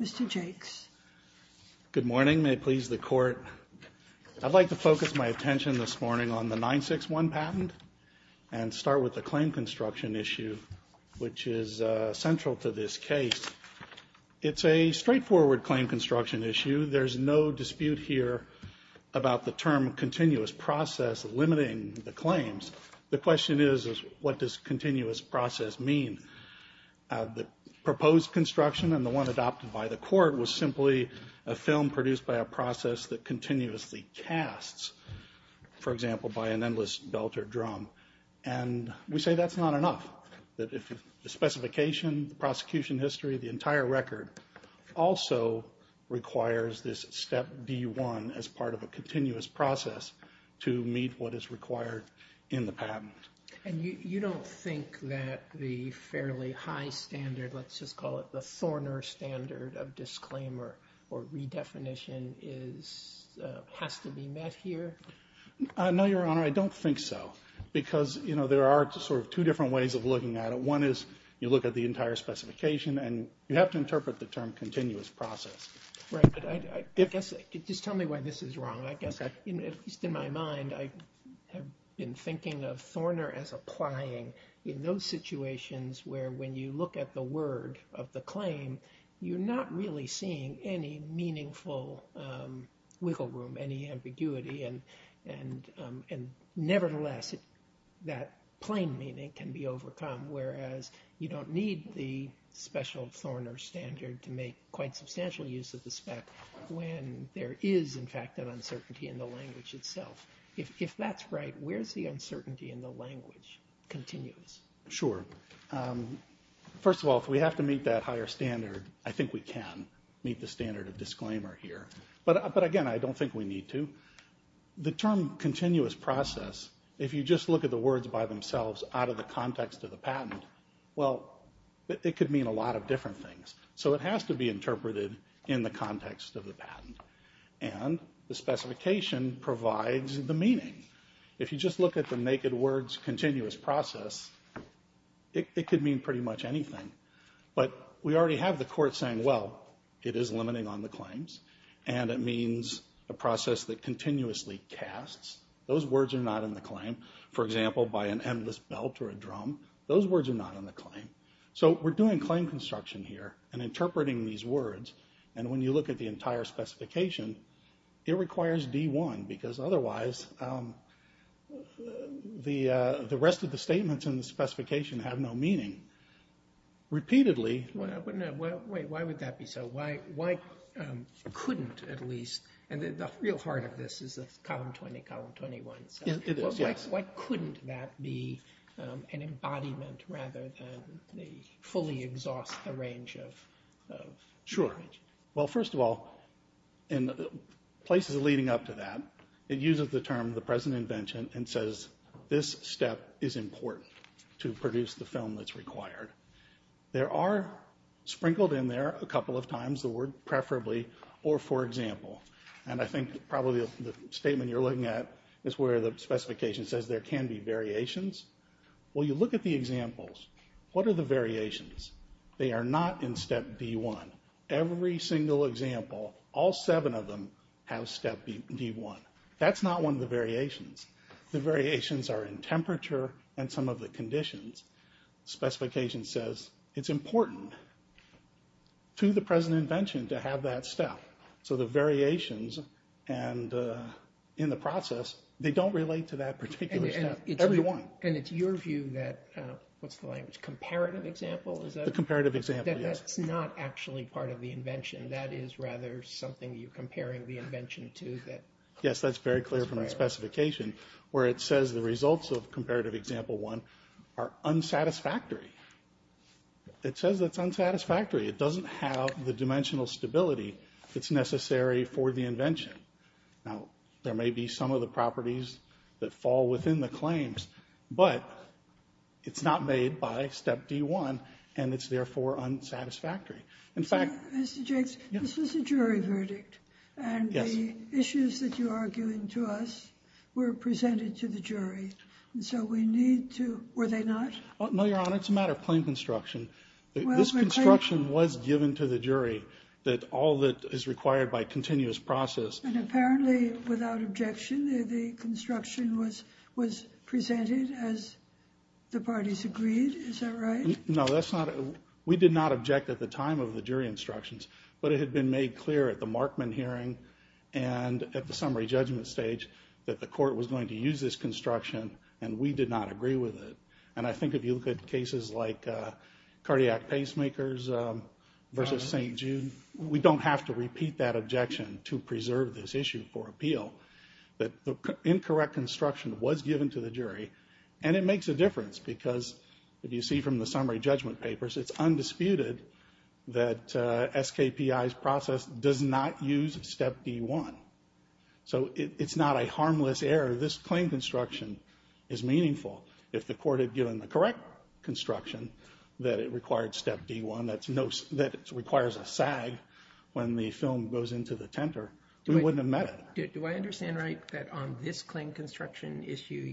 Mr. Jakes. Good morning. May it please the Court, I'd like to focus my attention this is central to this case. It's a straightforward claim construction issue. There's no dispute here about the term continuous process limiting the claims. The question is, what does continuous process mean? The proposed construction and the one adopted by the Court was simply a film produced by a process that continuously casts, for example, by an endless belter drum. And we say that's not enough. The specification, the prosecution history, the entire record also requires this step D1 as part of a continuous process to meet what is required in the patent. And you don't think that the fairly high standard, let's just call it the thorner standard of because, you know, there are sort of two different ways of looking at it. One is you look at the entire specification and you have to interpret the term continuous process. Right, but I guess, just tell me why this is wrong. I guess, at least in my mind, I have been thinking of thorner as applying in those situations where when you look at the word of the claim, you're not really seeing any meaningful wiggle room, any ambiguity and nevertheless, that plain meaning can be overcome, whereas you don't need the special thorner standard to make quite substantial use of the spec when there is, in fact, an uncertainty in the language itself. If that's right, where's the uncertainty in the language continuous? Sure. First of all, if we have to meet that higher standard, I think we can meet the standard of disclaimer here. But again, I don't think we need to. The term continuous process, if you just look at the words by themselves out of the context of the patent, well, it could mean a lot of different things. So it has to be interpreted in the context of the patent. And the specification provides the meaning. If you just look at the naked words continuous process, it could mean pretty much anything. But we already have the court saying, well, it is limiting on the claims and it is a process that continuously casts. Those words are not in the claim. For example, by an endless belt or a drum, those words are not in the claim. So we're doing claim construction here and interpreting these words. And when you look at the entire specification, it requires D1 because otherwise, the rest of the statements in the specification have no meaning. Repeatedly... Wait, why would that be so? Why couldn't, at least, and the real heart of this is Column 20, Column 21. It is, yes. Why couldn't that be an embodiment rather than the fully exhaust the range of... Sure. Well, first of all, in places leading up to that, it uses the term the present invention and says this step is important to produce the film that's required. There are sprinkled in there a couple of times the word preferably or for example. And I think probably the statement you're looking at is where the specification says there can be variations. Well, you look at the examples. What are the variations? They are not in step D1. Every single example, all seven of them have step D1. That's not one of the variations. The variations are in temperature and some of the conditions. Specification says it's important to the present invention to have that step. So the variations and in the process, they don't relate to that particular step. Every one. And it's your view that, what's the language? Comparative example? The comparative example, yes. That's not actually part of the invention. That is rather something you're comparing the invention to that... Yes, that's very clear from where it says the results of comparative example one are unsatisfactory. It says that's unsatisfactory. It doesn't have the dimensional stability that's necessary for the invention. Now, there may be some of the properties that fall within the claims, but it's not made by step D1 and it's therefore unsatisfactory. In fact... Mr. Jakes, this was a jury verdict and the issues that you're arguing to us were presented to the jury. So we need to... Were they not? No, Your Honor. It's a matter of plain construction. This construction was given to the jury that all that is required by continuous process... And apparently, without objection, the construction was presented as the parties agreed. Is that right? No, that's not... We did not object at the time of summary judgment stage that the court was going to use this construction and we did not agree with it. And I think if you look at cases like cardiac pacemakers versus St. Jude, we don't have to repeat that objection to preserve this issue for appeal. That the incorrect construction was given to the jury and it makes a difference because if you see from the summary judgment papers, it's undisputed that SKPI's process does not use step D1. So it's not a harmless error. This claim construction is meaningful. If the court had given the correct construction, that it required step D1, that it requires a SAG when the film goes into the tenter, we wouldn't have met it. Do I understand right that on this claim construction issue,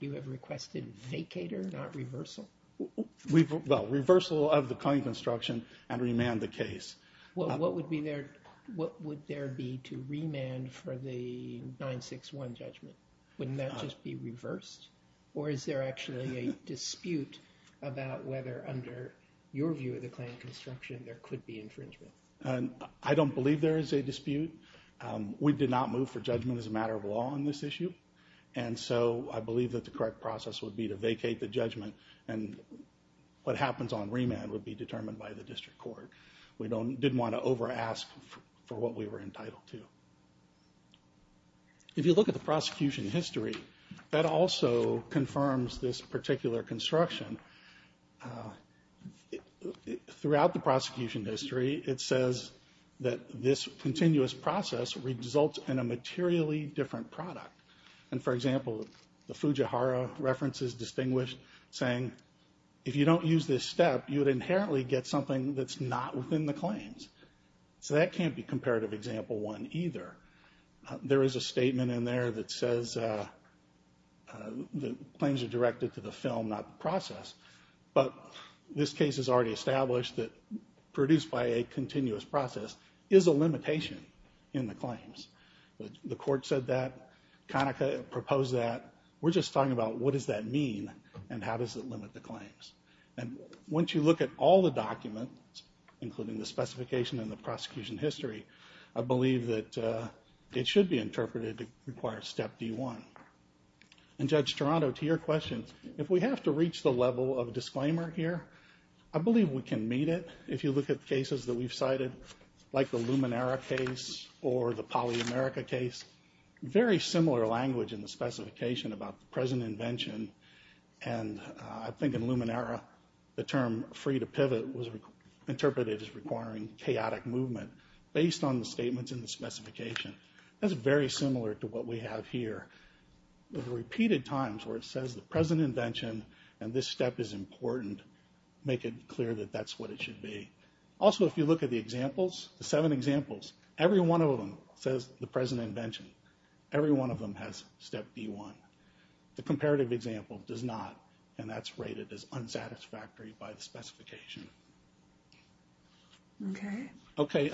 you have requested vacator, not reversal? Well, reversal of the claim construction and remand the case. Well, what would be there... What would there be to remand for the 961 judgment? Wouldn't that just be reversed? Or is there actually a dispute about whether under your view of the claim construction, there could be infringement? I don't believe there is a dispute. We did not move for judgment as a matter of law on this issue. And so I believe that the correct process would be to vacate the judgment and what happens on remand would be determined by the district court. We didn't want to over ask for what we were entitled to. If you look at the prosecution history, that also confirms this particular construction. Throughout the prosecution history, it says that this continuous process results in a materially different product. And for example, the Fujihara reference is distinguished saying, if you don't use this step, you would inherently get something that's not within the claims. So that can't be comparative example one either. There is a statement in there that says the claims are directed to the film, not the process. But this case is already established that produced by a continuous process is a limitation in the claims. The court said that. Conaca proposed that. We're just talking about what does that mean and how does it limit the claims. And once you look at all the documents, including the specification and the prosecution history, I believe that it should be interpreted to require step D1. And Judge Toronto, to your question, if we have to reach the level of the Luminera case or the Polyamerica case, very similar language in the specification about the present invention. And I think in Luminera, the term free to pivot was interpreted as requiring chaotic movement based on the statements in the specification. That's very similar to what we have here. The repeated times where it says the present invention and this step is important, make it clear that that's what it should be. Also, if you look at the examples, the seven examples, every one of them says the present invention. Every one of them has step D1. The comparative example does not, and that's rated as unsatisfactory by the specification. Okay,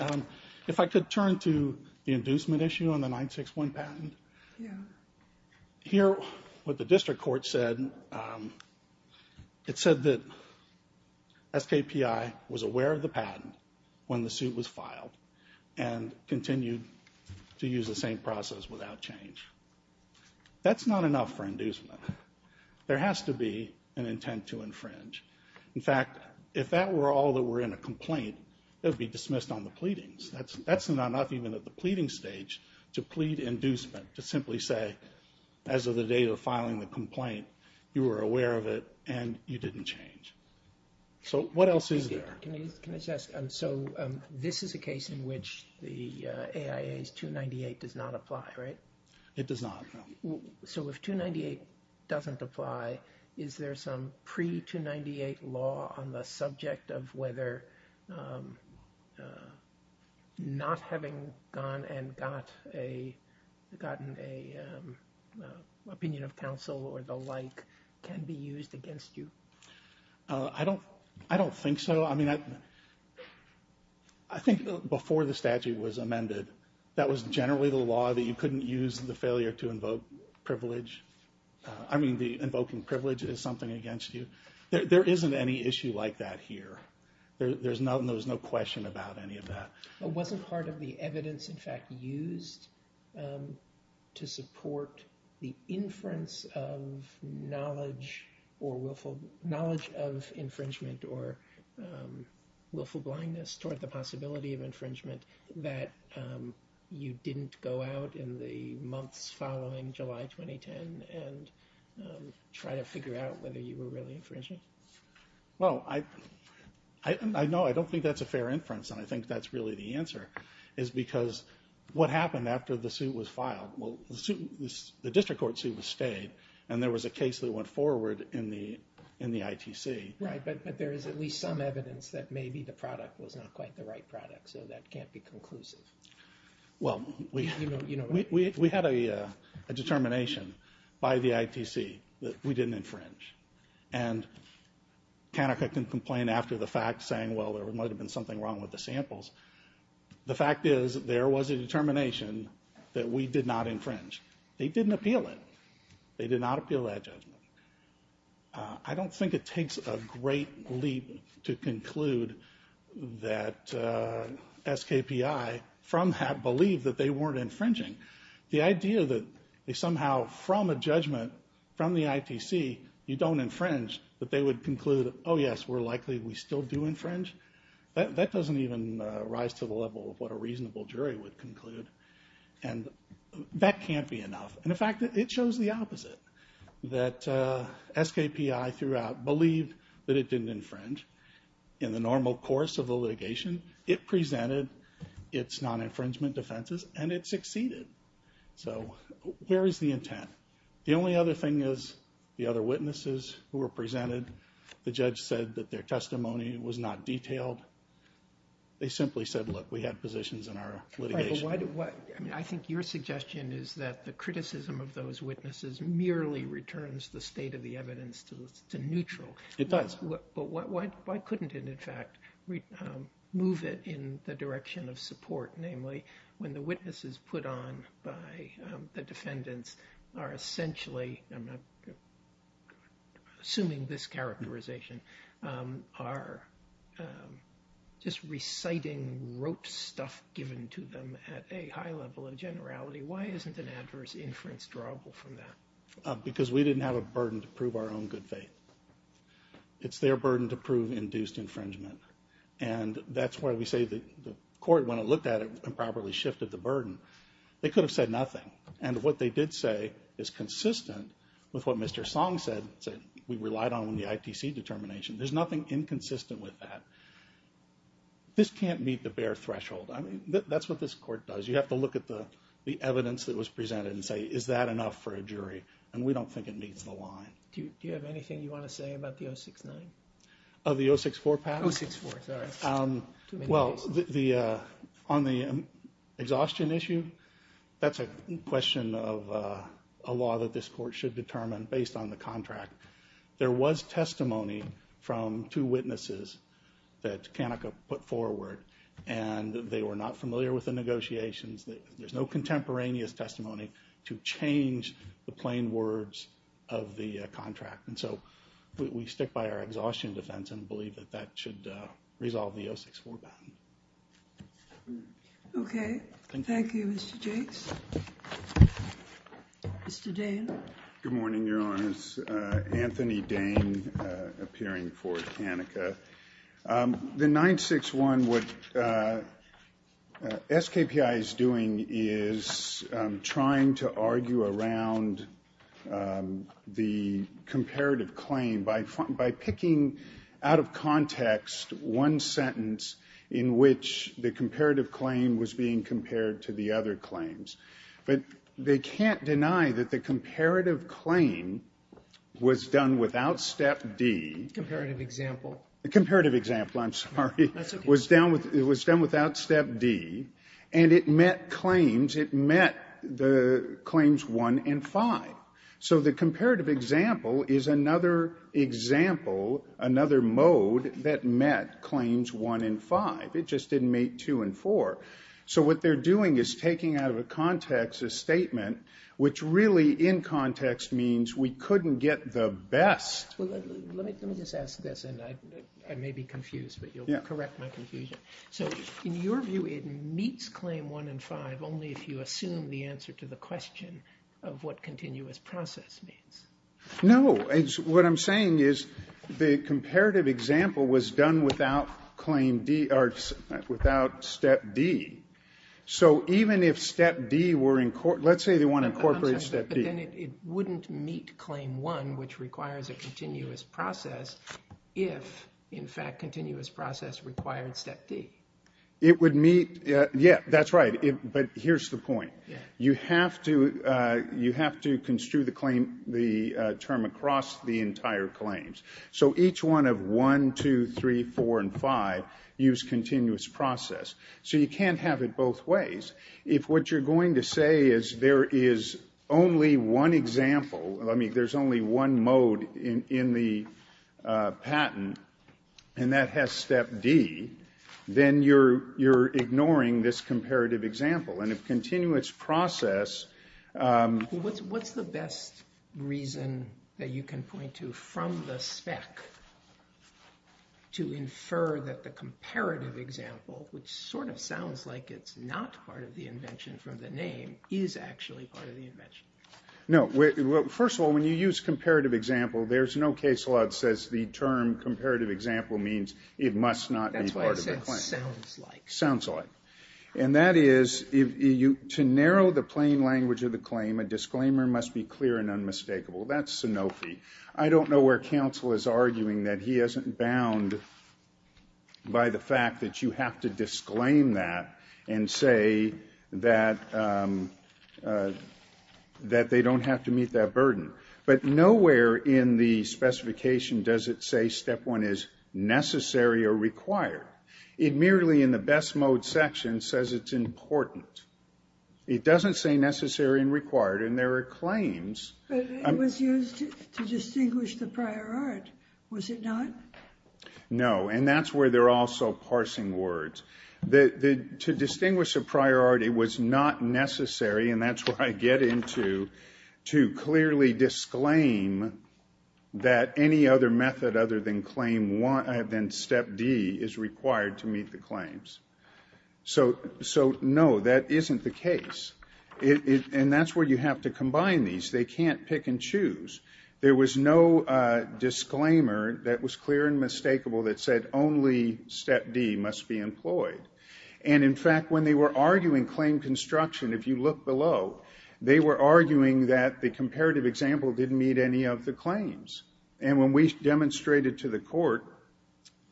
if I could turn to the inducement issue on the 9-6-1 patent. Here, what the district court said, it said that SKPI was aware of the patent when the suit was filed and continued to use the same process without change. That's not enough for inducement. There has to be an intent to infringe. In fact, if that were all that were in a complaint, it would be dismissed on the pleadings. That's not enough even at the pleading stage to plead inducement, to simply say, as of the date of filing the complaint, you were aware of it and you didn't change. So what else is there? Can I just ask, so this is a case in which the AIA's 298 does not apply, right? It does not. So if 298 doesn't apply, is there some pre-298 law on the subject of whether not having gone and gotten an opinion of counsel or the like can be used against you? I don't think so. I mean, I think before the statute was amended, that was generally the law that you couldn't use the failure to invoke privilege. I mean, invoking privilege is something against you. There isn't any issue like that here. There's no question about any of that. It wasn't part of the evidence, in fact, used to support the inference of knowledge of infringement or willful blindness toward the possibility of infringement that you didn't go out in the months following July 2010 and try to figure out whether you were really infringing. Well, I know I don't think that's a fair inference and I think that's really the answer is because what happened after the suit was filed? Well, the district court suit was stayed and there was a case that went forward in the ITC. Right, but there is at least some evidence that maybe the product was not quite the right product, so that can't be conclusive. Well, we had a determination by the ITC that we didn't infringe and Kanika can complain after the fact saying, well, there might have been something wrong with the samples. The fact is there was a determination that we did not infringe. They didn't appeal it. They did not appeal that judgment. I don't think it takes a great leap to conclude that SKPI from that believed that they weren't infringing. The idea that somehow from a judgment from the ITC, you don't infringe, that they would conclude, oh yes, we're likely we still do infringe, that doesn't even rise to the level of what a reasonable jury would conclude. And that can't be enough. In fact, it shows the opposite, that SKPI throughout believed that it didn't infringe. In the normal course of the litigation, it presented its non-infringement defenses and it succeeded. So where is the intent? The only other thing is the other witnesses who were presented, the judge said that their testimony was not detailed. They simply said, look, we had positions in our litigation. I think your suggestion is that the criticism of those witnesses merely returns the state of the evidence to neutral. But why couldn't it, in fact, move it in the direction of support? Namely, when the witnesses put on by the defendants are essentially, I'm not assuming this characterization, are just reciting wrote stuff given to them at a high level of generality. Why isn't an adverse inference drawable from that? Because we didn't have a burden to prove our own good faith. It's their burden to prove induced infringement. And that's why we say the court, when it looked at it and properly shifted the burden, they could have said nothing. And what they did say is consistent with what Mr. Song said, we relied on the ITC determination. There's nothing inconsistent with that. This can't meet the bare threshold. I mean, that's what this court does. You have to look at the evidence that was presented and say, is that enough for a jury? And we don't think it meets the line. Do you have anything you want to say about the 069? Oh, the 064, Pat? 064, sorry. Well, on the exhaustion issue, that's a question of a law that this court should determine based on the contract. There was testimony from two witnesses that Kanika put forward, and they were not familiar with the negotiations. There's no contemporaneous testimony to change the plain words of the contract. And so we stick by our exhaustion defense and believe that that should resolve the 064. Okay. Thank you, Mr. Jakes. Mr. Dane? Good morning, Your Honors. Anthony Dane, appearing for Kanika. The 961, what SKPI is doing is trying to argue around the comparative claim by picking out of context one sentence in which the comparative claim was being compared to the other claims. But they can't deny that the comparative claim was done without Step D. Comparative example. Comparative example, I'm sorry. That's okay. Was done without Step D, and it met claims. It met the claims 1 and 5. So the comparative example is another example, another mode that met claims 1 and 5. It just didn't meet 2 and 4. So what they're doing is taking out of a context a statement, which really in context means we couldn't get the best. Let me just ask this, and I may be confused, but you'll correct my confusion. So in your view, it meets claim 1 and 5 only if you assume the answer to the question of what continuous process means. No. What I'm saying is the comparative example was done without Step D. So even if Step D were in court, let's say they want to incorporate Step D. But then it wouldn't meet claim 1, which requires a continuous process, if, in fact, continuous process required Step D. It would meet. Yeah, that's right. But here's the point. You have to construe the term across the entire claims. So each one of 1, 2, 3, 4, and 5 use continuous process. So you can't have it both ways. If what you're going to say is there is only one example, I mean, there's only one mode in the patent, and that has Step D, then you're ignoring this comparative example. And if continuous process... What's the best reason that you can point to from the spec to infer that the comparative example, which sort of sounds like it's not part of the invention from the name, is actually part of the invention? No. First of all, when you use comparative example, there's no case law that says the term comparative example means it must not be part of the claim. That's why I said sounds like. Sounds like. And that is, to narrow the plain language of the claim, a disclaimer must be clear and unmistakable. That's Sanofi. I don't know where counsel is arguing that he isn't bound by the fact that you have to disclaim that and say that they don't have to meet that burden. But nowhere in the specification does it say Step 1 is necessary or required. It merely in the best mode section says it's important. It doesn't say necessary and required. And there are claims. But it was used to distinguish the prior art, was it not? No. And that's where they're also parsing words. To distinguish a priority was not necessary. And that's where I get into to clearly disclaim that any other method other than Step D is required to meet the claims. So no, that isn't the case. And that's where you have to combine these. They can't pick and choose. There was no disclaimer that was clear and mistakable that said only Step D must be employed. And in fact, when they were arguing claim construction, if you look below, they were arguing that the comparative example didn't meet any of the claims. And when we demonstrated to the court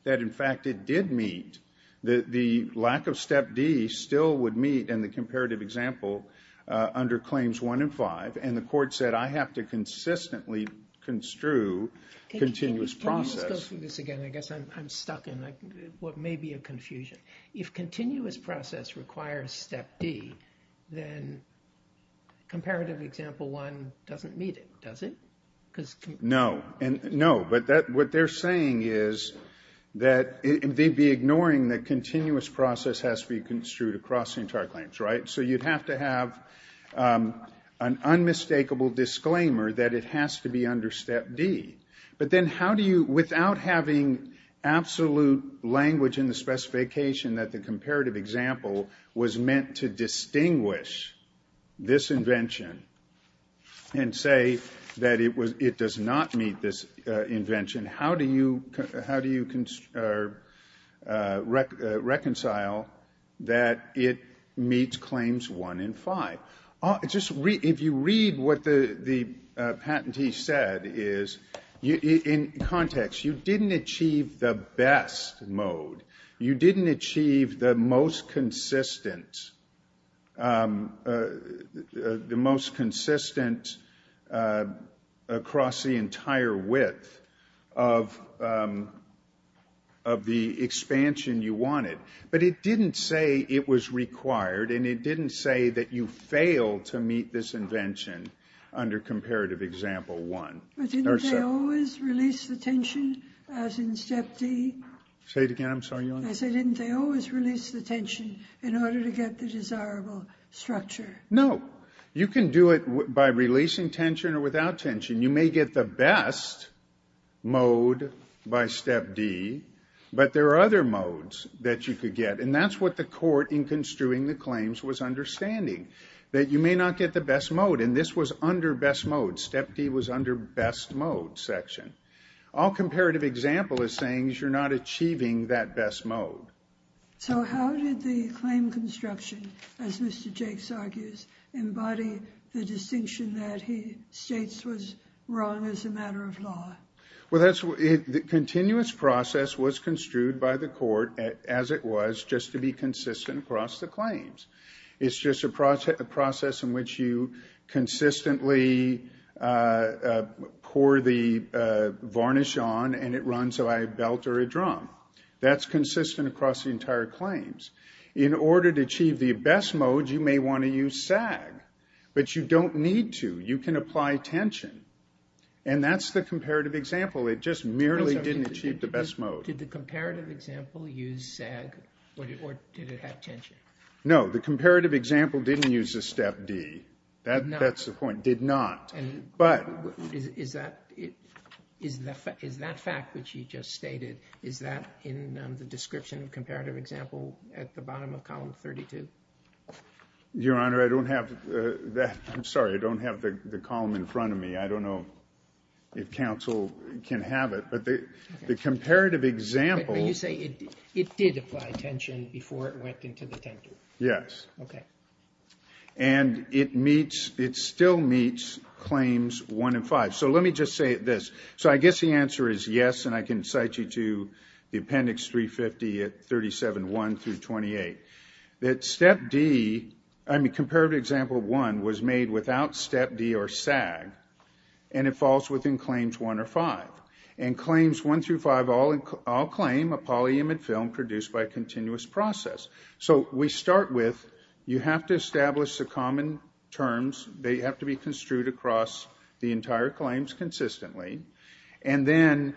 that, in fact, it did meet, the lack of Step D still would meet in the comparative example under Claims 1 and 5. And the court said, I have to consistently construe continuous process. Can we just go through this again? I guess I'm stuck in what may be a confusion. If continuous process requires Step D, then comparative example 1 doesn't meet it, does it? No, no. But what they're saying is that they'd be ignoring the continuous process has to be construed across the entire claims, right? So you'd have to have an unmistakable disclaimer that it has to be under Step D. But then how do you, without having absolute language in the specification that the comparative example was meant to distinguish this invention and say that it does not meet this invention, how do you reconcile that it meets Claims 1 and 5? Just if you read what the patentee said is, in context, you didn't achieve the best mode. You didn't achieve the most consistent across the entire width of the expansion you wanted. But it didn't say it was required. And it didn't say that you failed to meet this invention under comparative example 1. But didn't they always release the tension as in Step D? Say it again. I'm sorry, Your Honor. I said, didn't they always release the tension in order to get the desirable structure? No. You can do it by releasing tension or without tension. You may get the best mode by Step D. But there are other modes that you could get. And that's what the court in construing the claims was understanding, that you may not get the best mode. And this was under best mode. Step D was under best mode section. All comparative example is saying you're not achieving that best mode. So how did the claim construction, as Mr. Jakes argues, embody the distinction that he states was wrong as a matter of law? Well, the continuous process was construed by the court as it was, just to be consistent across the claims. It's just a process in which you consistently pour the varnish on and it runs by a belt or a drum. That's consistent across the entire claims. In order to achieve the best mode, you may want to use SAG. But you don't need to. You can apply tension. And that's the comparative example. It just merely didn't achieve the best mode. Did the comparative example use SAG or did it have tension? No, the comparative example didn't use the Step D. That's the point. Did not. But is that fact which you just stated, is that in the description of comparative example at the bottom of column 32? Your Honor, I don't have that. I'm sorry. I don't have the column in front of me. I don't know if counsel can have it. But the comparative example... But when you say it did apply tension before it went into the tenter. Yes. Okay. And it meets, it still meets claims one and five. So let me just say this. So I guess the answer is yes. And I can cite you to the appendix 350 at 37.1 through 28. That Step D, I mean, comparative example one was made without Step D or SAG. And it falls within claims one or five. And claims one through five all claim a polyimid film produced by a continuous process. So we start with, you have to establish the common terms. They have to be construed across the entire claims consistently. And then,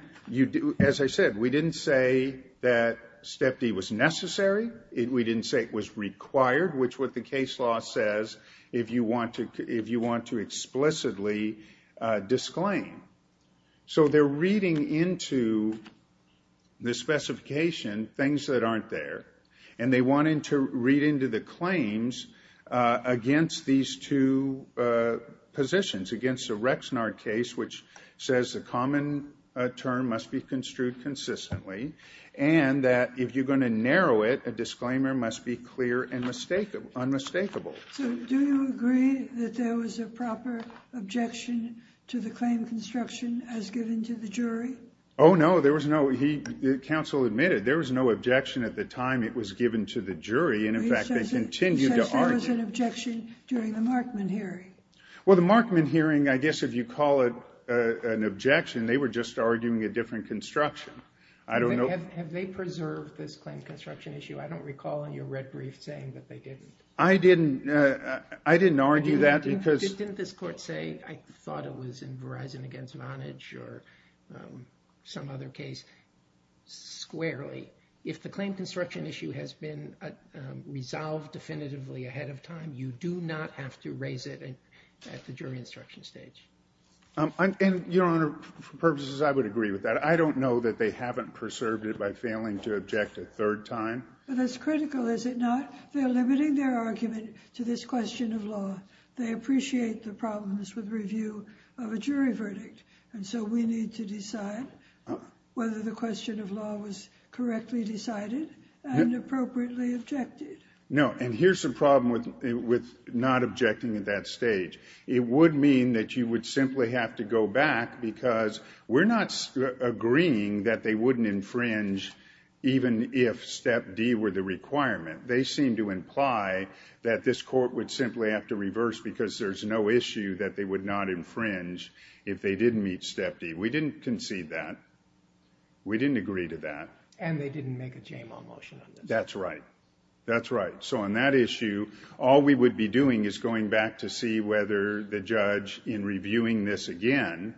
as I said, we didn't say that Step D was necessary. We didn't say it was required. Which is what the case law says if you want to explicitly disclaim. So they're reading into the specification things that aren't there. And they want to read into the claims against these two positions. Against the Rexnard case, which says the common term must be construed consistently. And that if you're going to narrow it, a disclaimer must be clear and unmistakable. So do you agree that there was a proper objection to the claim construction as given to the jury? Oh, no. There was no. He, the counsel admitted there was no objection at the time it was given to the jury. And in fact, they continue to argue. There was an objection during the Markman hearing. Well, the Markman hearing, I guess if you call it an objection, they were just arguing a different construction. I don't know. Have they preserved this claim construction issue? I don't recall in your red brief saying that they didn't. I didn't. I didn't argue that because. Didn't this court say, I thought it was in Verizon against Vonage or some other case? Squarely. If the claim construction issue has been resolved definitively ahead of time, you do not have to raise it at the jury instruction stage. And your honor, for purposes, I would agree with that. I don't know that they haven't preserved it by failing to object a third time. But that's critical, is it not? They're limiting their argument to this question of law. They appreciate the problems with review of a jury verdict. And so we need to decide whether the question of law was correctly decided and appropriately objected. No. And here's the problem with not objecting at that stage. It would mean that you would simply have to go back because we're not agreeing that they wouldn't infringe even if step D were the requirement. They seem to imply that this court would simply have to reverse because there's no issue that they would not infringe if they didn't meet step D. We didn't concede that. We didn't agree to that. And they didn't make a JMO motion. That's right. That's right. All we would be doing is going back to see whether the judge, in reviewing this again,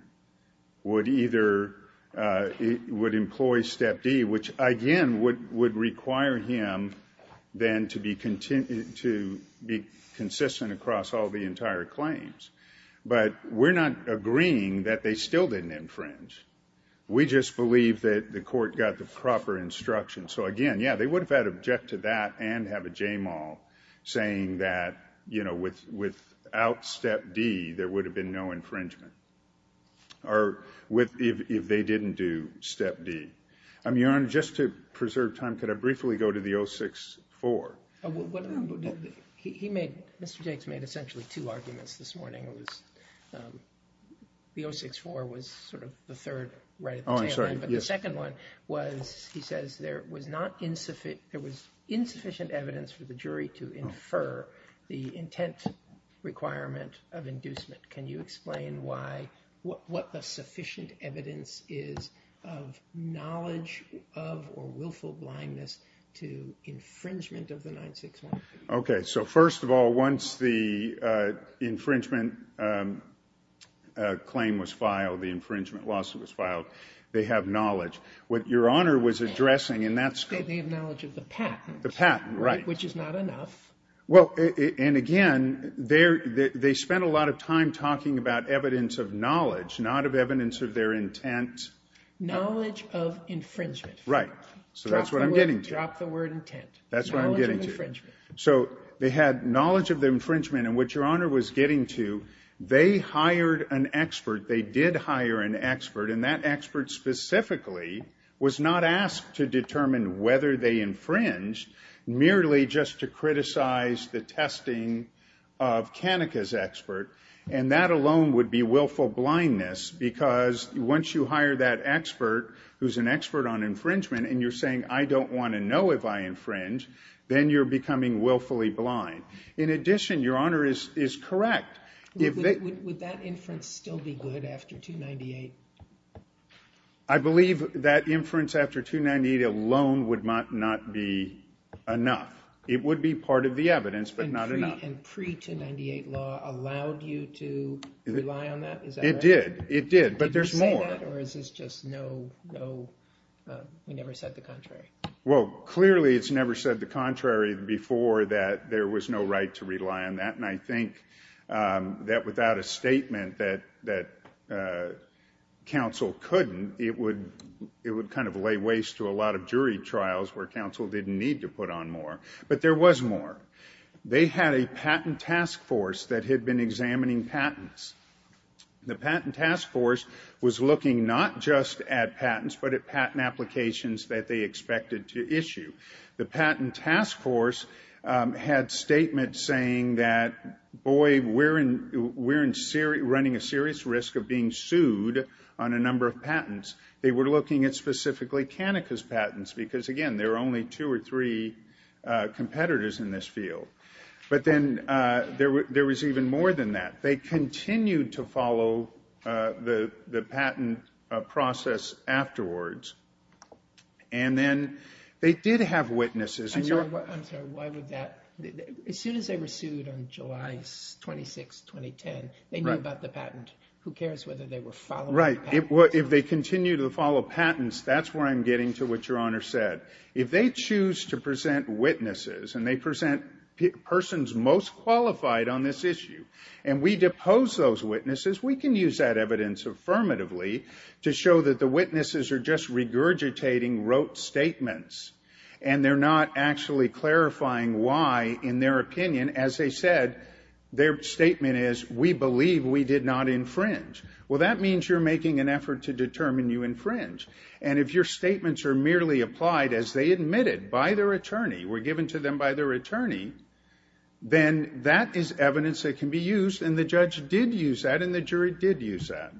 would either employ step D, which, again, would require him then to be consistent across all the entire claims. But we're not agreeing that they still didn't infringe. We just believe that the court got the proper instruction. So again, yeah, they would have had to object to that and have a JMO. Saying that, you know, without step D, there would have been no infringement. Or if they didn't do step D. Your Honor, just to preserve time, could I briefly go to the 06-4? He made, Mr. Jakes made essentially two arguments this morning. The 06-4 was sort of the third right at the tail end. Oh, I'm sorry, yes. The second one was, he says, there was insufficient evidence for the jury to infer the intent requirement of inducement. Can you explain what the sufficient evidence is of knowledge of or willful blindness to infringement of the 961? OK. So first of all, once the infringement claim was filed, the infringement lawsuit was filed, they have knowledge. What Your Honor was addressing in that... They have knowledge of the patent. The patent, right. Which is not enough. Well, and again, they spent a lot of time talking about evidence of knowledge, not of evidence of their intent. Knowledge of infringement. Right. So that's what I'm getting to. Drop the word intent. That's what I'm getting to. So they had knowledge of the infringement. And what Your Honor was getting to, they hired an expert. They did hire an expert, and that expert specifically was not asked to determine whether they infringed, merely just to criticize the testing of Kanika's expert. And that alone would be willful blindness, because once you hire that expert, who's an expert on infringement, and you're saying, I don't want to know if I infringe, then you're becoming willfully blind. In addition, Your Honor is correct. Would that inference still be good after 298? I believe that inference after 298 alone would not be enough. It would be part of the evidence, but not enough. And pre-298 law allowed you to rely on that? Is that right? It did. It did. But there's more. Or is this just no... We never said the contrary. Well, clearly it's never said the contrary before that there was no right to rely on that. And I think that without a statement that counsel couldn't, it would kind of lay waste to a lot of jury trials where counsel didn't need to put on more. But there was more. They had a patent task force that had been examining patents. The patent task force was looking not just at patents, but at patent applications that they expected to issue. The patent task force had statements saying that, boy, we're running a serious risk of being sued on a number of patents. They were looking at specifically Kanika's patents because, again, there are only two or three competitors in this field. But then there was even more than that. They continued to follow the patent process afterwards. And then they did have witnesses. I'm sorry. Why would that... As soon as they were sued on July 26, 2010, they knew about the patent. Who cares whether they were following the patent? Right. If they continue to follow patents, that's where I'm getting to what Your Honor said. If they choose to present witnesses and they present persons most qualified on this issue and we depose those witnesses, we can use that evidence affirmatively to show that the jury, regurgitating, wrote statements and they're not actually clarifying why, in their opinion, as they said, their statement is, we believe we did not infringe. Well, that means you're making an effort to determine you infringe. And if your statements are merely applied as they admitted by their attorney, were given to them by their attorney, then that is evidence that can be used. And the judge did use that and the jury did use that.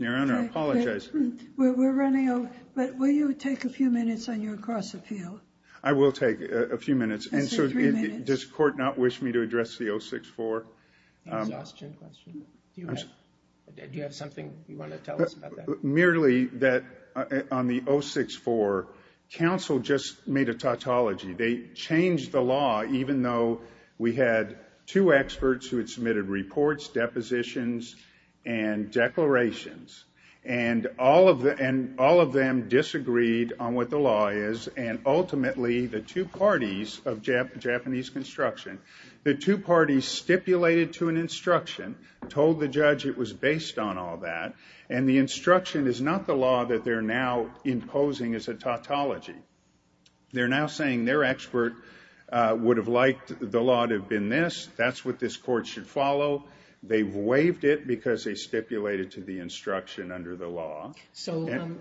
Your Honor, I apologize. We're running out. But will you take a few minutes on your cross appeal? I will take a few minutes. Just three minutes. Does court not wish me to address the 064? Exhaustion question. Do you have something you want to tell us about that? Merely that on the 064, counsel just made a tautology. They changed the law, even though we had two experts who had submitted reports, depositions, and declarations. And all of them disagreed on what the law is. And ultimately, the two parties of Japanese construction, the two parties stipulated to an instruction, told the judge it was based on all that. And the instruction is not the law that they're now imposing as a tautology. They're now saying their expert would have liked the law to have been this. That's what this court should follow. They've waived it because they stipulated to the instruction under the law. So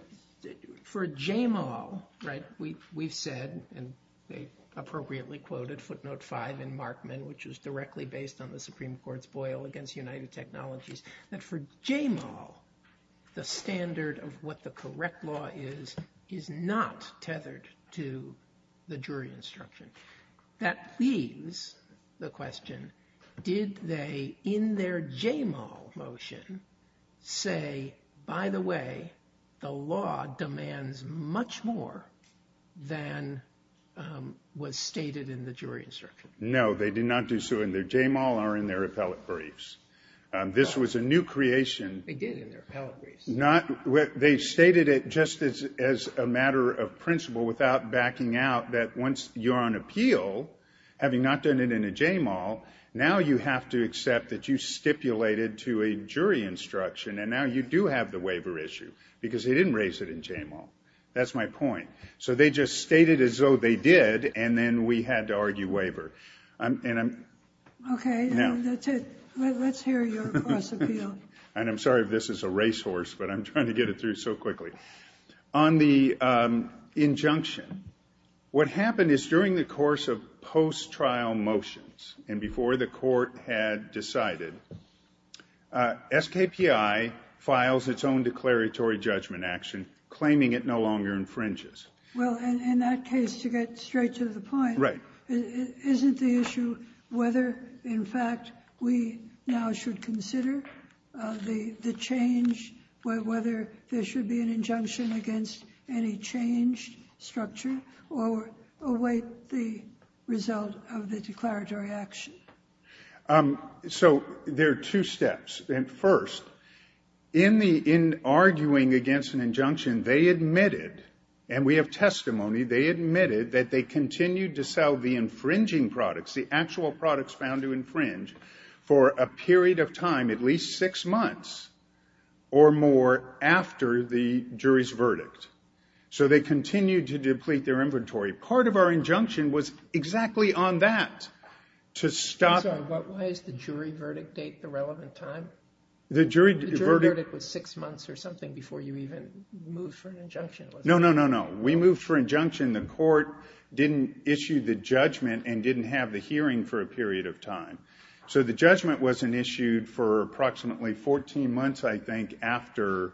for JMAL, right, we've said, and they appropriately quoted footnote five in Markman, which was directly based on the Supreme Court's boil against United Technologies, that for JMAL, the standard of what the correct law is, is not tethered to the jury instruction. That leaves the question, did they, in their JMAL motion, say, by the way, the law demands much more than was stated in the jury instruction? No, they did not do so in their JMAL or in their appellate briefs. This was a new creation. They did in their appellate briefs. Not, they stated it just as a matter of principle without backing out that once you're on appeal, having not done it in a JMAL, now you have to accept that you stipulated to a jury instruction, and now you do have the waiver issue because they didn't raise it in JMAL. That's my point. So they just stated as though they did, and then we had to argue waiver. Okay, that's it. Let's hear your cross appeal. And I'm sorry if this is a racehorse, but I'm trying to get it through so quickly. On the injunction, what happened is during the course of post-trial motions and before the court had decided, SKPI files its own declaratory judgment action, claiming it no longer infringes. Well, in that case, to get straight to the point, isn't the issue whether, in fact, we now should consider the change, whether there should be an injunction against any changed structure or await the result of the declaratory action? So there are two steps. And first, in arguing against an injunction, they admitted, and we have testimony, they admitted that they continued to sell the infringing products, the actual products found to infringe, for a period of time, at least six months, or more, after the jury's verdict. So they continued to deplete their inventory. Part of our injunction was exactly on that, to stop... I'm sorry, why is the jury verdict date the relevant time? The jury verdict... The jury verdict was six months or something before you even moved for an injunction. No, no, no, no. We moved for injunction. The court didn't issue the judgment and didn't have the hearing for a period of time. So the judgment wasn't issued for approximately 14 months, I think, after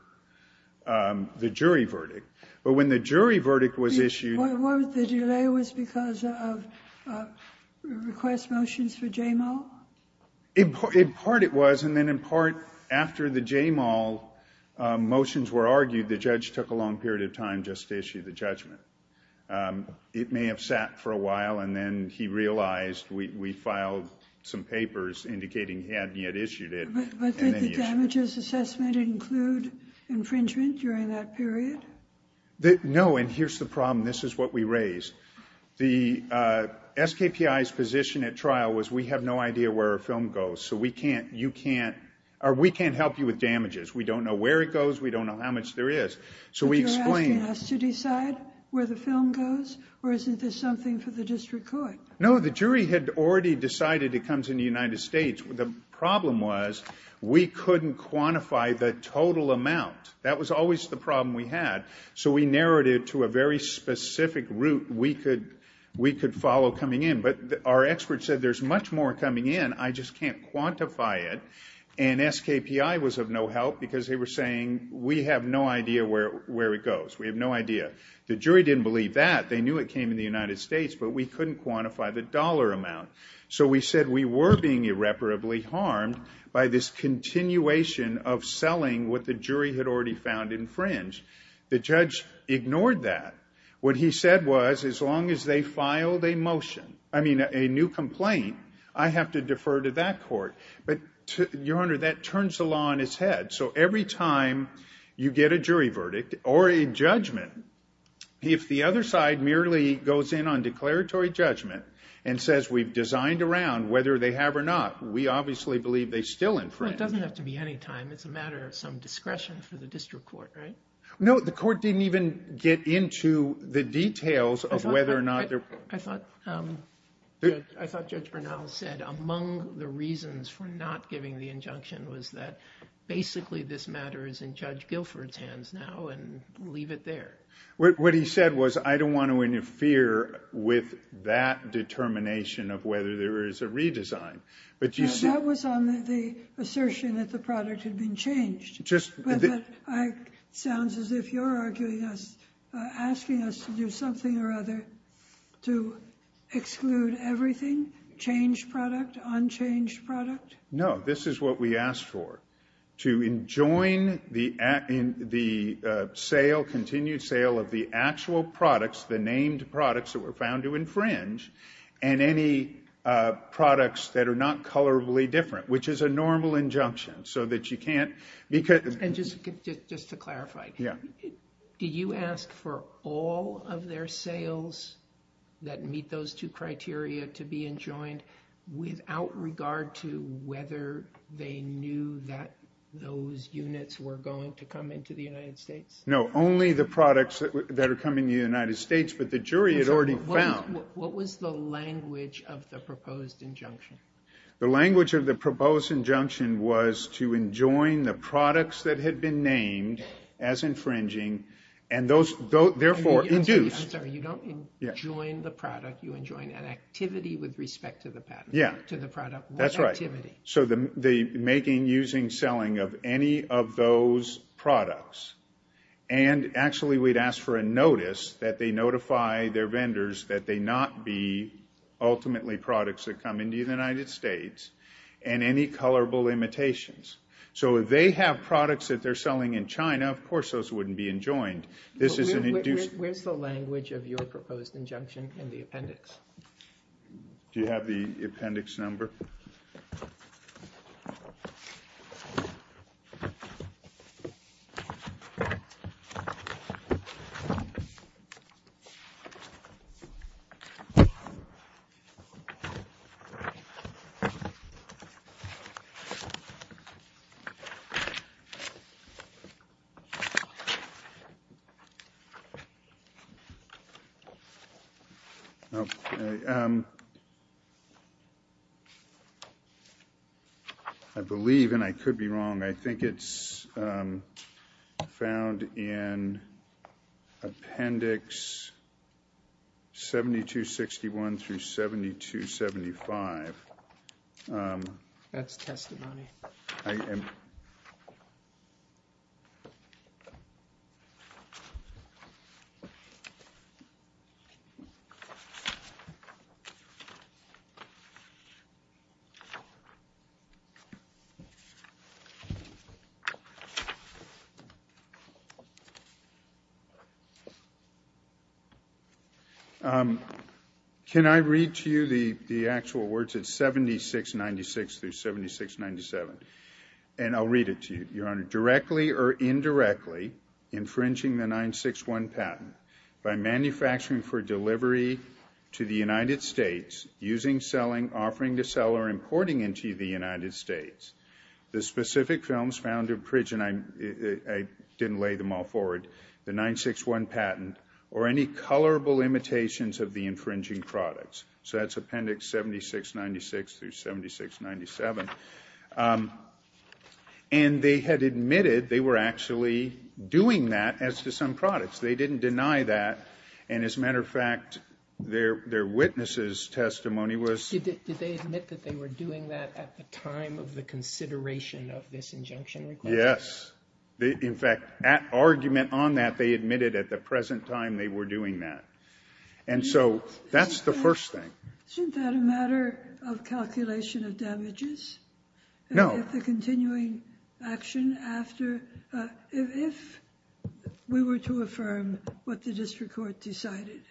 the jury verdict. But when the jury verdict was issued... The delay was because of request motions for J-Mall? In part it was, and then in part after the J-Mall motions were argued, the judge took a long period of time just to issue the judgment. It may have sat for a while, and then he realized we filed some papers indicating he hadn't yet issued it. But did the damages assessment include infringement during that period? No, and here's the problem. This is what we raised. The SKPI's position at trial was, we have no idea where a film goes, so we can't help you with damages. We don't know where it goes. We don't know how much there is. But you're asking us to decide where the film goes, or isn't this something for the district court? No, the jury had already decided it comes in the United States. The problem was we couldn't quantify the total amount. That was always the problem we had. So we narrowed it to a very specific route we could follow coming in. But our experts said, there's much more coming in, I just can't quantify it. And SKPI was of no help because they were saying, we have no idea where it goes. We have no idea. The jury didn't believe that. They knew it came in the United States, but we couldn't quantify the dollar amount. So we said we were being irreparably harmed by this continuation of selling what the jury had already found infringed. The judge ignored that. What he said was, as long as they filed a motion, I mean, a new complaint, I have to defer to that court. But, Your Honor, that turns the law on its head. So every time you get a jury verdict or a judgment, if the other side merely goes in on declaratory judgment and says we've designed around whether they have or not, we obviously believe they still infringed. It doesn't have to be any time. It's a matter of some discretion for the district court, right? No, the court didn't even get into the details of whether or not they're... I thought Judge Bernal said among the reasons for not giving the injunction was that basically this matter is in Judge Guilford's hands now and leave it there. What he said was, I don't want to interfere with that determination of whether there is a redesign. But you see... That was on the assertion that the product had been changed. But that sounds as if you're arguing us, asking us to do something or other to exclude everything, change product, unchanged product. No, this is what we asked for, to enjoin the continued sale of the actual products, the named products that were found to infringe, and any products that are not colorably different, which is a normal injunction so that you can't... And just to clarify, did you ask for all of their sales that meet those two criteria to be enjoined without regard to whether they knew that those units were going to come into the United States? No, only the products that are coming to the United States, but the jury had already found... What was the language of the proposed injunction? The language of the proposed injunction was to enjoin the products that had been named as infringing and those therefore induced... I'm sorry, you don't enjoin the product, you enjoin an activity with respect to the product. Yeah, that's right. So the making, using, selling of any of those products, and actually we'd ask for a notice that they notify their vendors that they not be ultimately products that come into the United States and any colorable imitations. So if they have products that they're selling in China, of course those wouldn't be enjoined. This is an induced... Where's the language of your proposed injunction in the appendix? Do you have the appendix number? Nope. I believe, and I could be wrong, I think it's found in appendix 7261 through 7275. That's testimony. Okay. Can I read to you the actual words? It's 7696 through 7697. And I'll read it to you, Your Honor. Directly or indirectly infringing the 961 patent by manufacturing for delivery to the United States, using, selling, offering to sell, or importing into the United States. The specific films found in Pritchett, and I didn't lay them all forward, the 961 patent or any colorable imitations of the infringing products. So that's appendix 7696 through 7697. And they had admitted they were actually doing that as to some products. They didn't deny that. And as a matter of fact, their witness's testimony was... Did they admit that they were doing that at the time of the consideration of this injunction request? Yes. In fact, at argument on that, they admitted at the present time they were doing that. And so that's the first thing. Isn't that a matter of calculation of damages? No. If the continuing action after... If we were to affirm what the district court decided,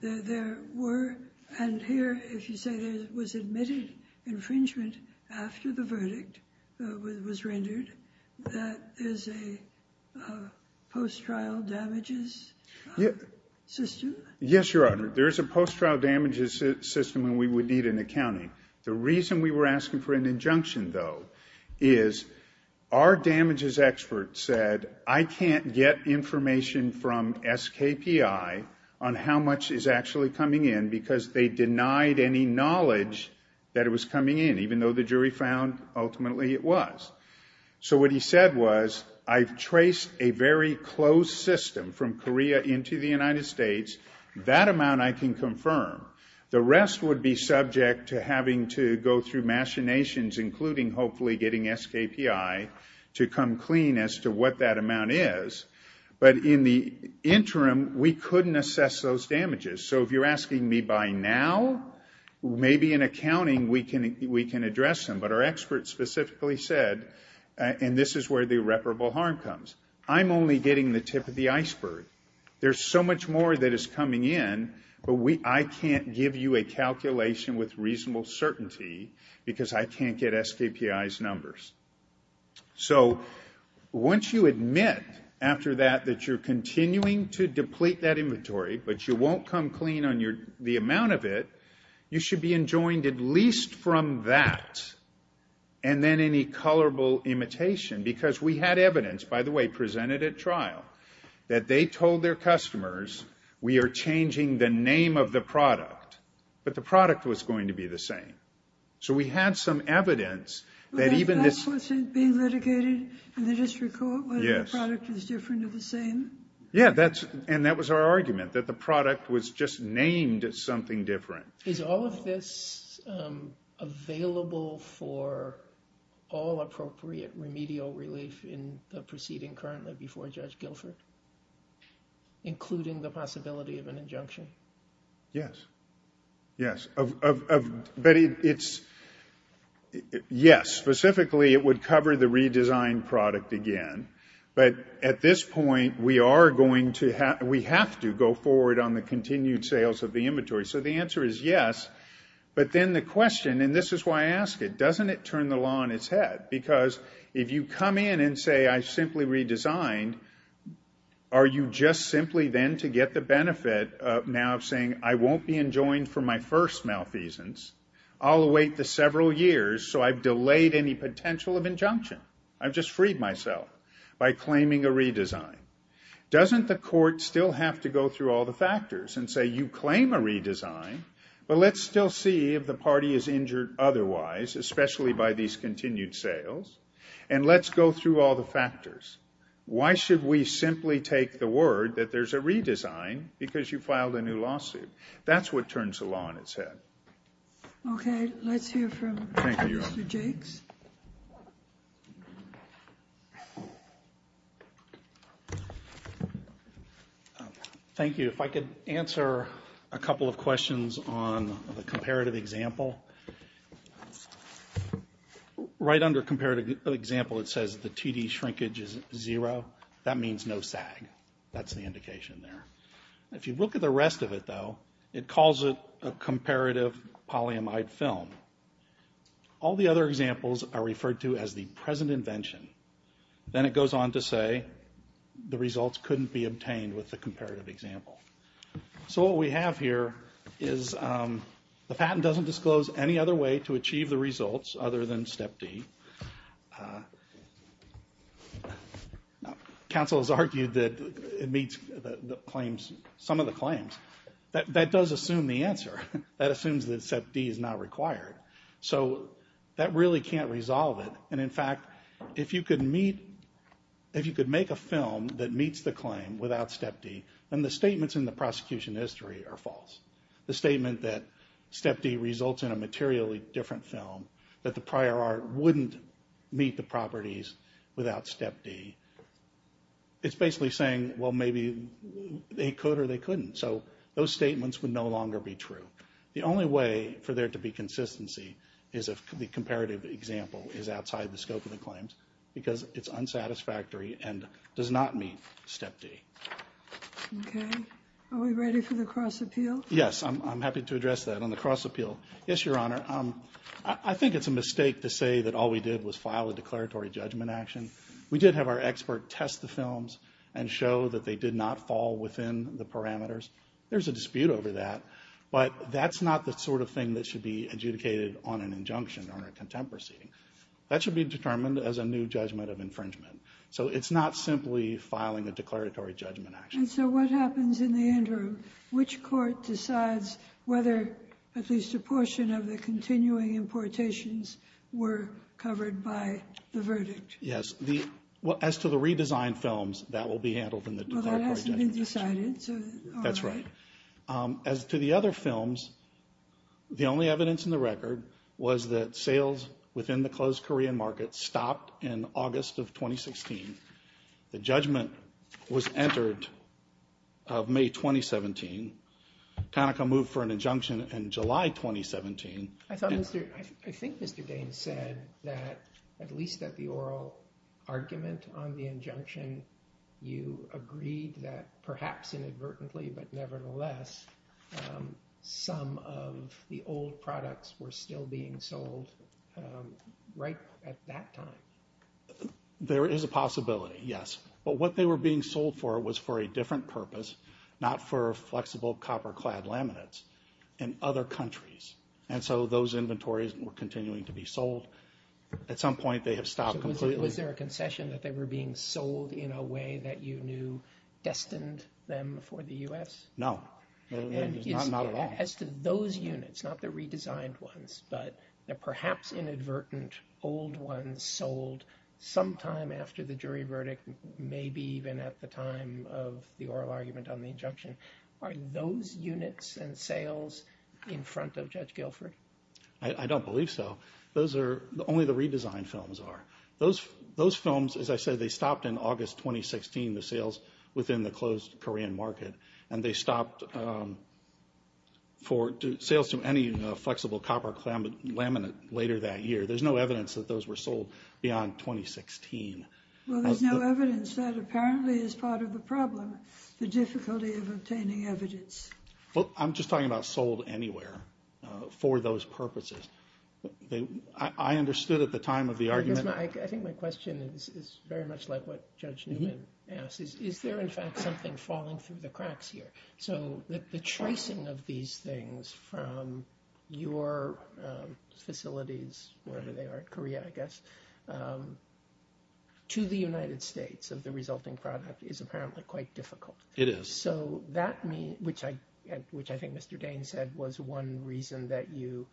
there were... And here, if you say there was admitted infringement after the verdict was rendered, that is a post-trial damages system? Yes, Your Honor. There is a post-trial damages system and we would need an accounting. The reason we were asking for an injunction, though, is our damages expert said, I can't get information from SKPI on how much is actually coming in because they denied any knowledge that it was coming in, even though the jury found ultimately it was. So what he said was, I've traced a very closed system from Korea into the United States. That amount I can confirm. The rest would be subject to having to go through machinations, including hopefully getting SKPI to come clean as to what that amount is. But in the interim, we couldn't assess those damages. So if you're asking me by now, maybe in accounting we can address them. But our expert specifically said, and this is where the irreparable harm comes, I'm only getting the tip of the iceberg. There's so much more that is coming in, but I can't give you a calculation with reasonable certainty because I can't get SKPI's numbers. So once you admit after that that you're continuing to deplete that inventory, but you won't come clean on the amount of it, you should be enjoined at least from that and then any colorable imitation. Because we had evidence, by the way, presented at trial, that they told their customers we are changing the name of the product, but the product was going to be the same. So we had some evidence that even this... But that wasn't being litigated, and they just recall whether the product is different or the same? Yeah, and that was our argument, that the product was just named something different. Is all of this available for all appropriate remedial relief in the proceeding currently before Judge Guilford, including the possibility of an injunction? Yes, yes, but it's... Yes, specifically it would cover the redesigned product again, but at this point we are going to have... We have to go forward on the continued sales of the inventory. So the answer is yes, but then the question, and this is why I ask it, doesn't it turn the law on its head? Because if you come in and say, I simply redesigned, are you just simply then to get the benefit of now saying, I won't be enjoined for my first malfeasance. I'll await the several years so I've delayed any potential of injunction. I've just freed myself by claiming a redesign. Doesn't the court still have to go through all the factors and say, you claim a redesign, but let's still see if the party is injured otherwise, especially by these continued sales, and let's go through all the factors. Why should we simply take the word that there's a redesign because you filed a new lawsuit? That's what turns the law on its head. Okay, let's hear from Mr. Jakes. Thank you. If I could answer a couple of questions on the comparative example. Right under comparative example, it says the TD shrinkage is zero. That means no SAG. That's the indication there. If you look at the rest of it though, it calls it a comparative polyamide film. All the other examples are referred to as the present invention. Then it goes on to say, the results couldn't be obtained with the comparative example. So what we have here is, the patent doesn't disclose any other way to achieve the results other than step D. Counsel has argued that it meets some of the claims. That does assume the answer. That assumes that step D is not required. So that really can't resolve it. And in fact, if you could meet, if you could make a film that meets the claim without step D, then the statements in the prosecution history are false. The statement that step D results in a materially different film, that the prior art wouldn't meet the properties without step D. It's basically saying, well, maybe they could or they couldn't. So those statements would no longer be true. The only way for there to be consistency is if the comparative example is outside the scope of the claims because it's unsatisfactory and does not meet step D. Okay, are we ready for the cross appeal? Yes, I'm happy to address that. Yes, Your Honor. I think it's a mistake to say that all we did was file a declaratory judgment action. We did have our expert test the films and show that they did not fall within the parameters. There's a dispute over that, but that's not the sort of thing that should be adjudicated on an injunction or a contempt proceeding. That should be determined as a new judgment of infringement. So it's not simply filing a declaratory judgment action. And so what happens in the interim? Which court decides whether at least a portion of the continuing importations were covered by the verdict? Yes, as to the redesigned films, that will be handled in the declaratory judgment action. Well, that hasn't been decided, so all right. That's right. As to the other films, the only evidence in the record was that sales within the closed Korean market stopped in August of 2016. The judgment was entered of May 2017. Conoco moved for an injunction in July 2017. I think Mr. Dane said that, at least at the oral argument on the injunction, you agreed that perhaps inadvertently, but nevertheless, some of the old products were still being sold right at that time. There is a possibility, yes. But what they were being sold for was for a different purpose, not for flexible copper-clad laminates in other countries. And so those inventories were continuing to be sold. At some point, they have stopped completely. Was there a concession that they were being sold in a way that you knew destined them for the U.S.? No, not at all. As to those units, not the redesigned ones, but the perhaps inadvertent old ones sold sometime after the jury verdict, maybe even at the time of the oral argument on the injunction, are those units and sales in front of Judge Guilford? I don't believe so. Those are only the redesigned films are. Those films, as I said, they stopped in August 2016, the sales within the closed Korean market. And they stopped for sales to any flexible copper laminate later that year. There's no evidence that those were sold beyond 2016. Well, there's no evidence that apparently is part of the problem, the difficulty of obtaining evidence. I'm just talking about sold anywhere for those purposes. I understood at the time of the argument. I think my question is very much like what Judge Newman asked. Is there, in fact, something falling through the cracks here? So the tracing of these things from your facilities, wherever they are, Korea, I guess, to the United States of the resulting product is apparently quite difficult. It is. So that means, which I think Mr. Dane said was one reason that you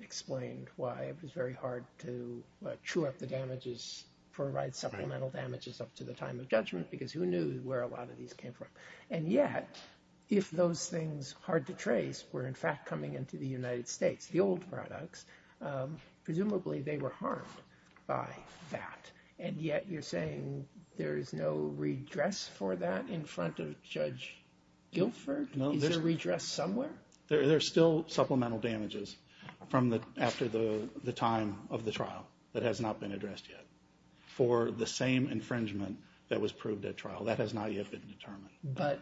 explained why it was very hard to chew up the damages, provide supplemental damages up to the time of judgment, because who knew where a lot of these came from? And yet, if those things hard to trace were in fact coming into the United States, the old products, presumably they were harmed by that. And yet you're saying there is no redress for that in front of Judge Guilford? No. Is there a redress somewhere? There's still supplemental damages after the time of the trial that has not been addressed yet for the same infringement that was proved at trial. That has not yet been determined. But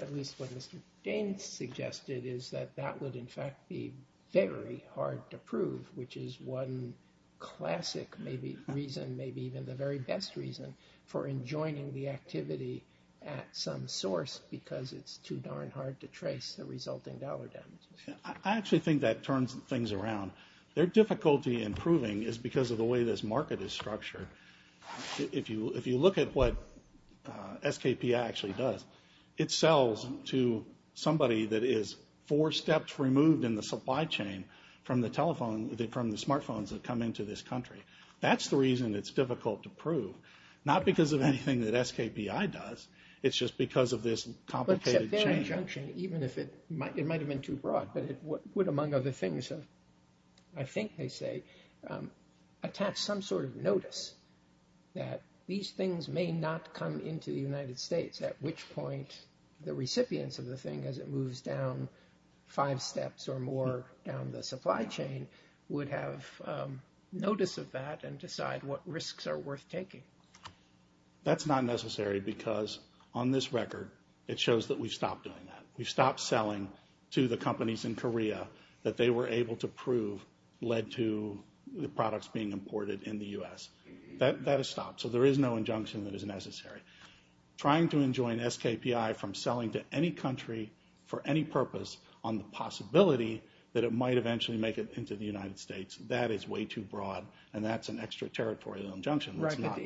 at least what Mr. Dane suggested is that that would, in fact, be very hard to prove, which is one classic, maybe reason, maybe even the very best reason for enjoining the activity at some source because it's too darn hard to trace the resulting dollar damages. Yeah, I actually think that turns things around. Their difficulty in proving is because of the way this market is structured. If you look at what SKPI actually does, it sells to somebody that is four steps removed in the supply chain from the smartphones that come into this country. That's the reason it's difficult to prove, not because of anything that SKPI does. It's just because of this complicated chain. Except their injunction, even if it might have been too broad, but it would, among other things, I think they say, attach some sort of notice that these things may not come into the United States, at which point the recipients of the thing as it moves down five steps or more down the supply chain would have notice of that and decide what risks are worth taking. That's not necessary because on this record, it shows that we've stopped doing that. We've stopped selling to the companies in Korea that they were able to prove led to the products being imported in the US. That has stopped. So there is no injunction that is necessary. Trying to enjoin SKPI from selling to any country for any purpose on the possibility that it might eventually make it into the United States, that is way too broad. And that's an extraterritorial injunction. It's not.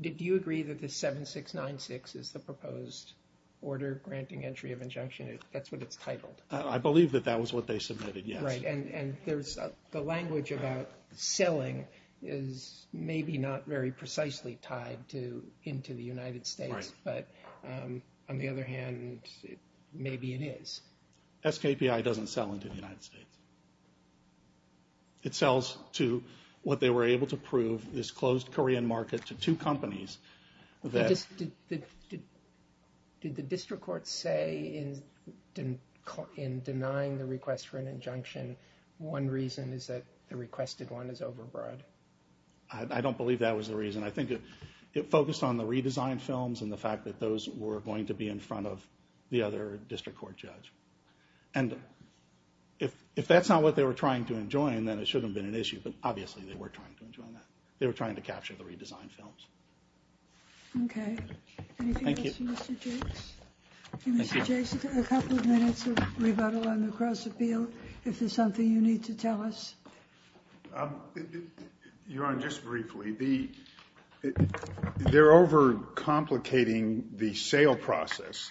Did you agree that the 7696 is the proposed order granting entry of injunction? That's what it's titled. I believe that that was what they submitted, yes. Right. The language about selling is maybe not very precisely tied into the United States. But on the other hand, maybe it is. SKPI doesn't sell into the United States. It sells to what they were able to prove, this closed Korean market to two companies. Did the district court say in denying the request for an injunction, one reason is that the requested one is overbroad? I don't believe that was the reason. I think it focused on the redesigned films were going to be in front of the other district court judge. And if the district court if that's not what they were trying to enjoin, then it shouldn't have been an issue. But obviously, they were trying to enjoin that. They were trying to capture the redesigned films. OK. Thank you. Thank you, Mr. Jakes. A couple of minutes of rebuttal on the cross appeal. If there's something you need to tell us. Your Honor, just briefly, they're overcomplicating the sale process.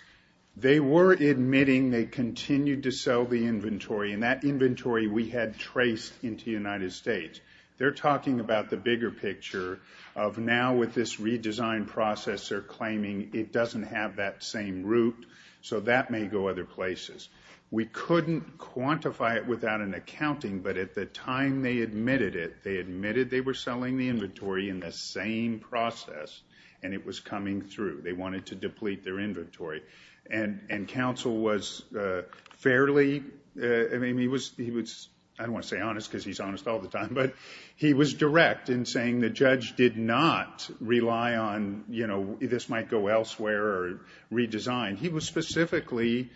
They were admitting they continued to sell the inventory. And that inventory we had traced into the United States. They're talking about the bigger picture of now with this redesigned process, they're claiming it doesn't have that same route. So that may go other places. We couldn't quantify it without an accounting. But at the time they admitted it, they admitted they were selling the inventory in the same process. And it was coming through. They wanted to deplete their inventory. And counsel was fairly I mean, he was he was I don't want to say honest because he's honest all the time. But he was direct in saying the judge did not rely on, you know, this might go elsewhere or redesign. He was specifically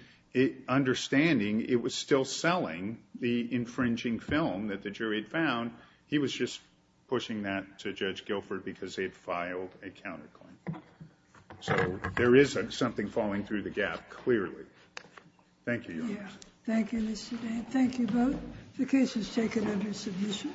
understanding it was still selling the infringing film that the jury had found. He was just pushing that to Judge Guilford because they'd filed a counterclaim. So there is something falling through the gap, clearly. Thank you, Your Honor. Thank you, Mr. Dan. Thank you both. The case is taken under submission.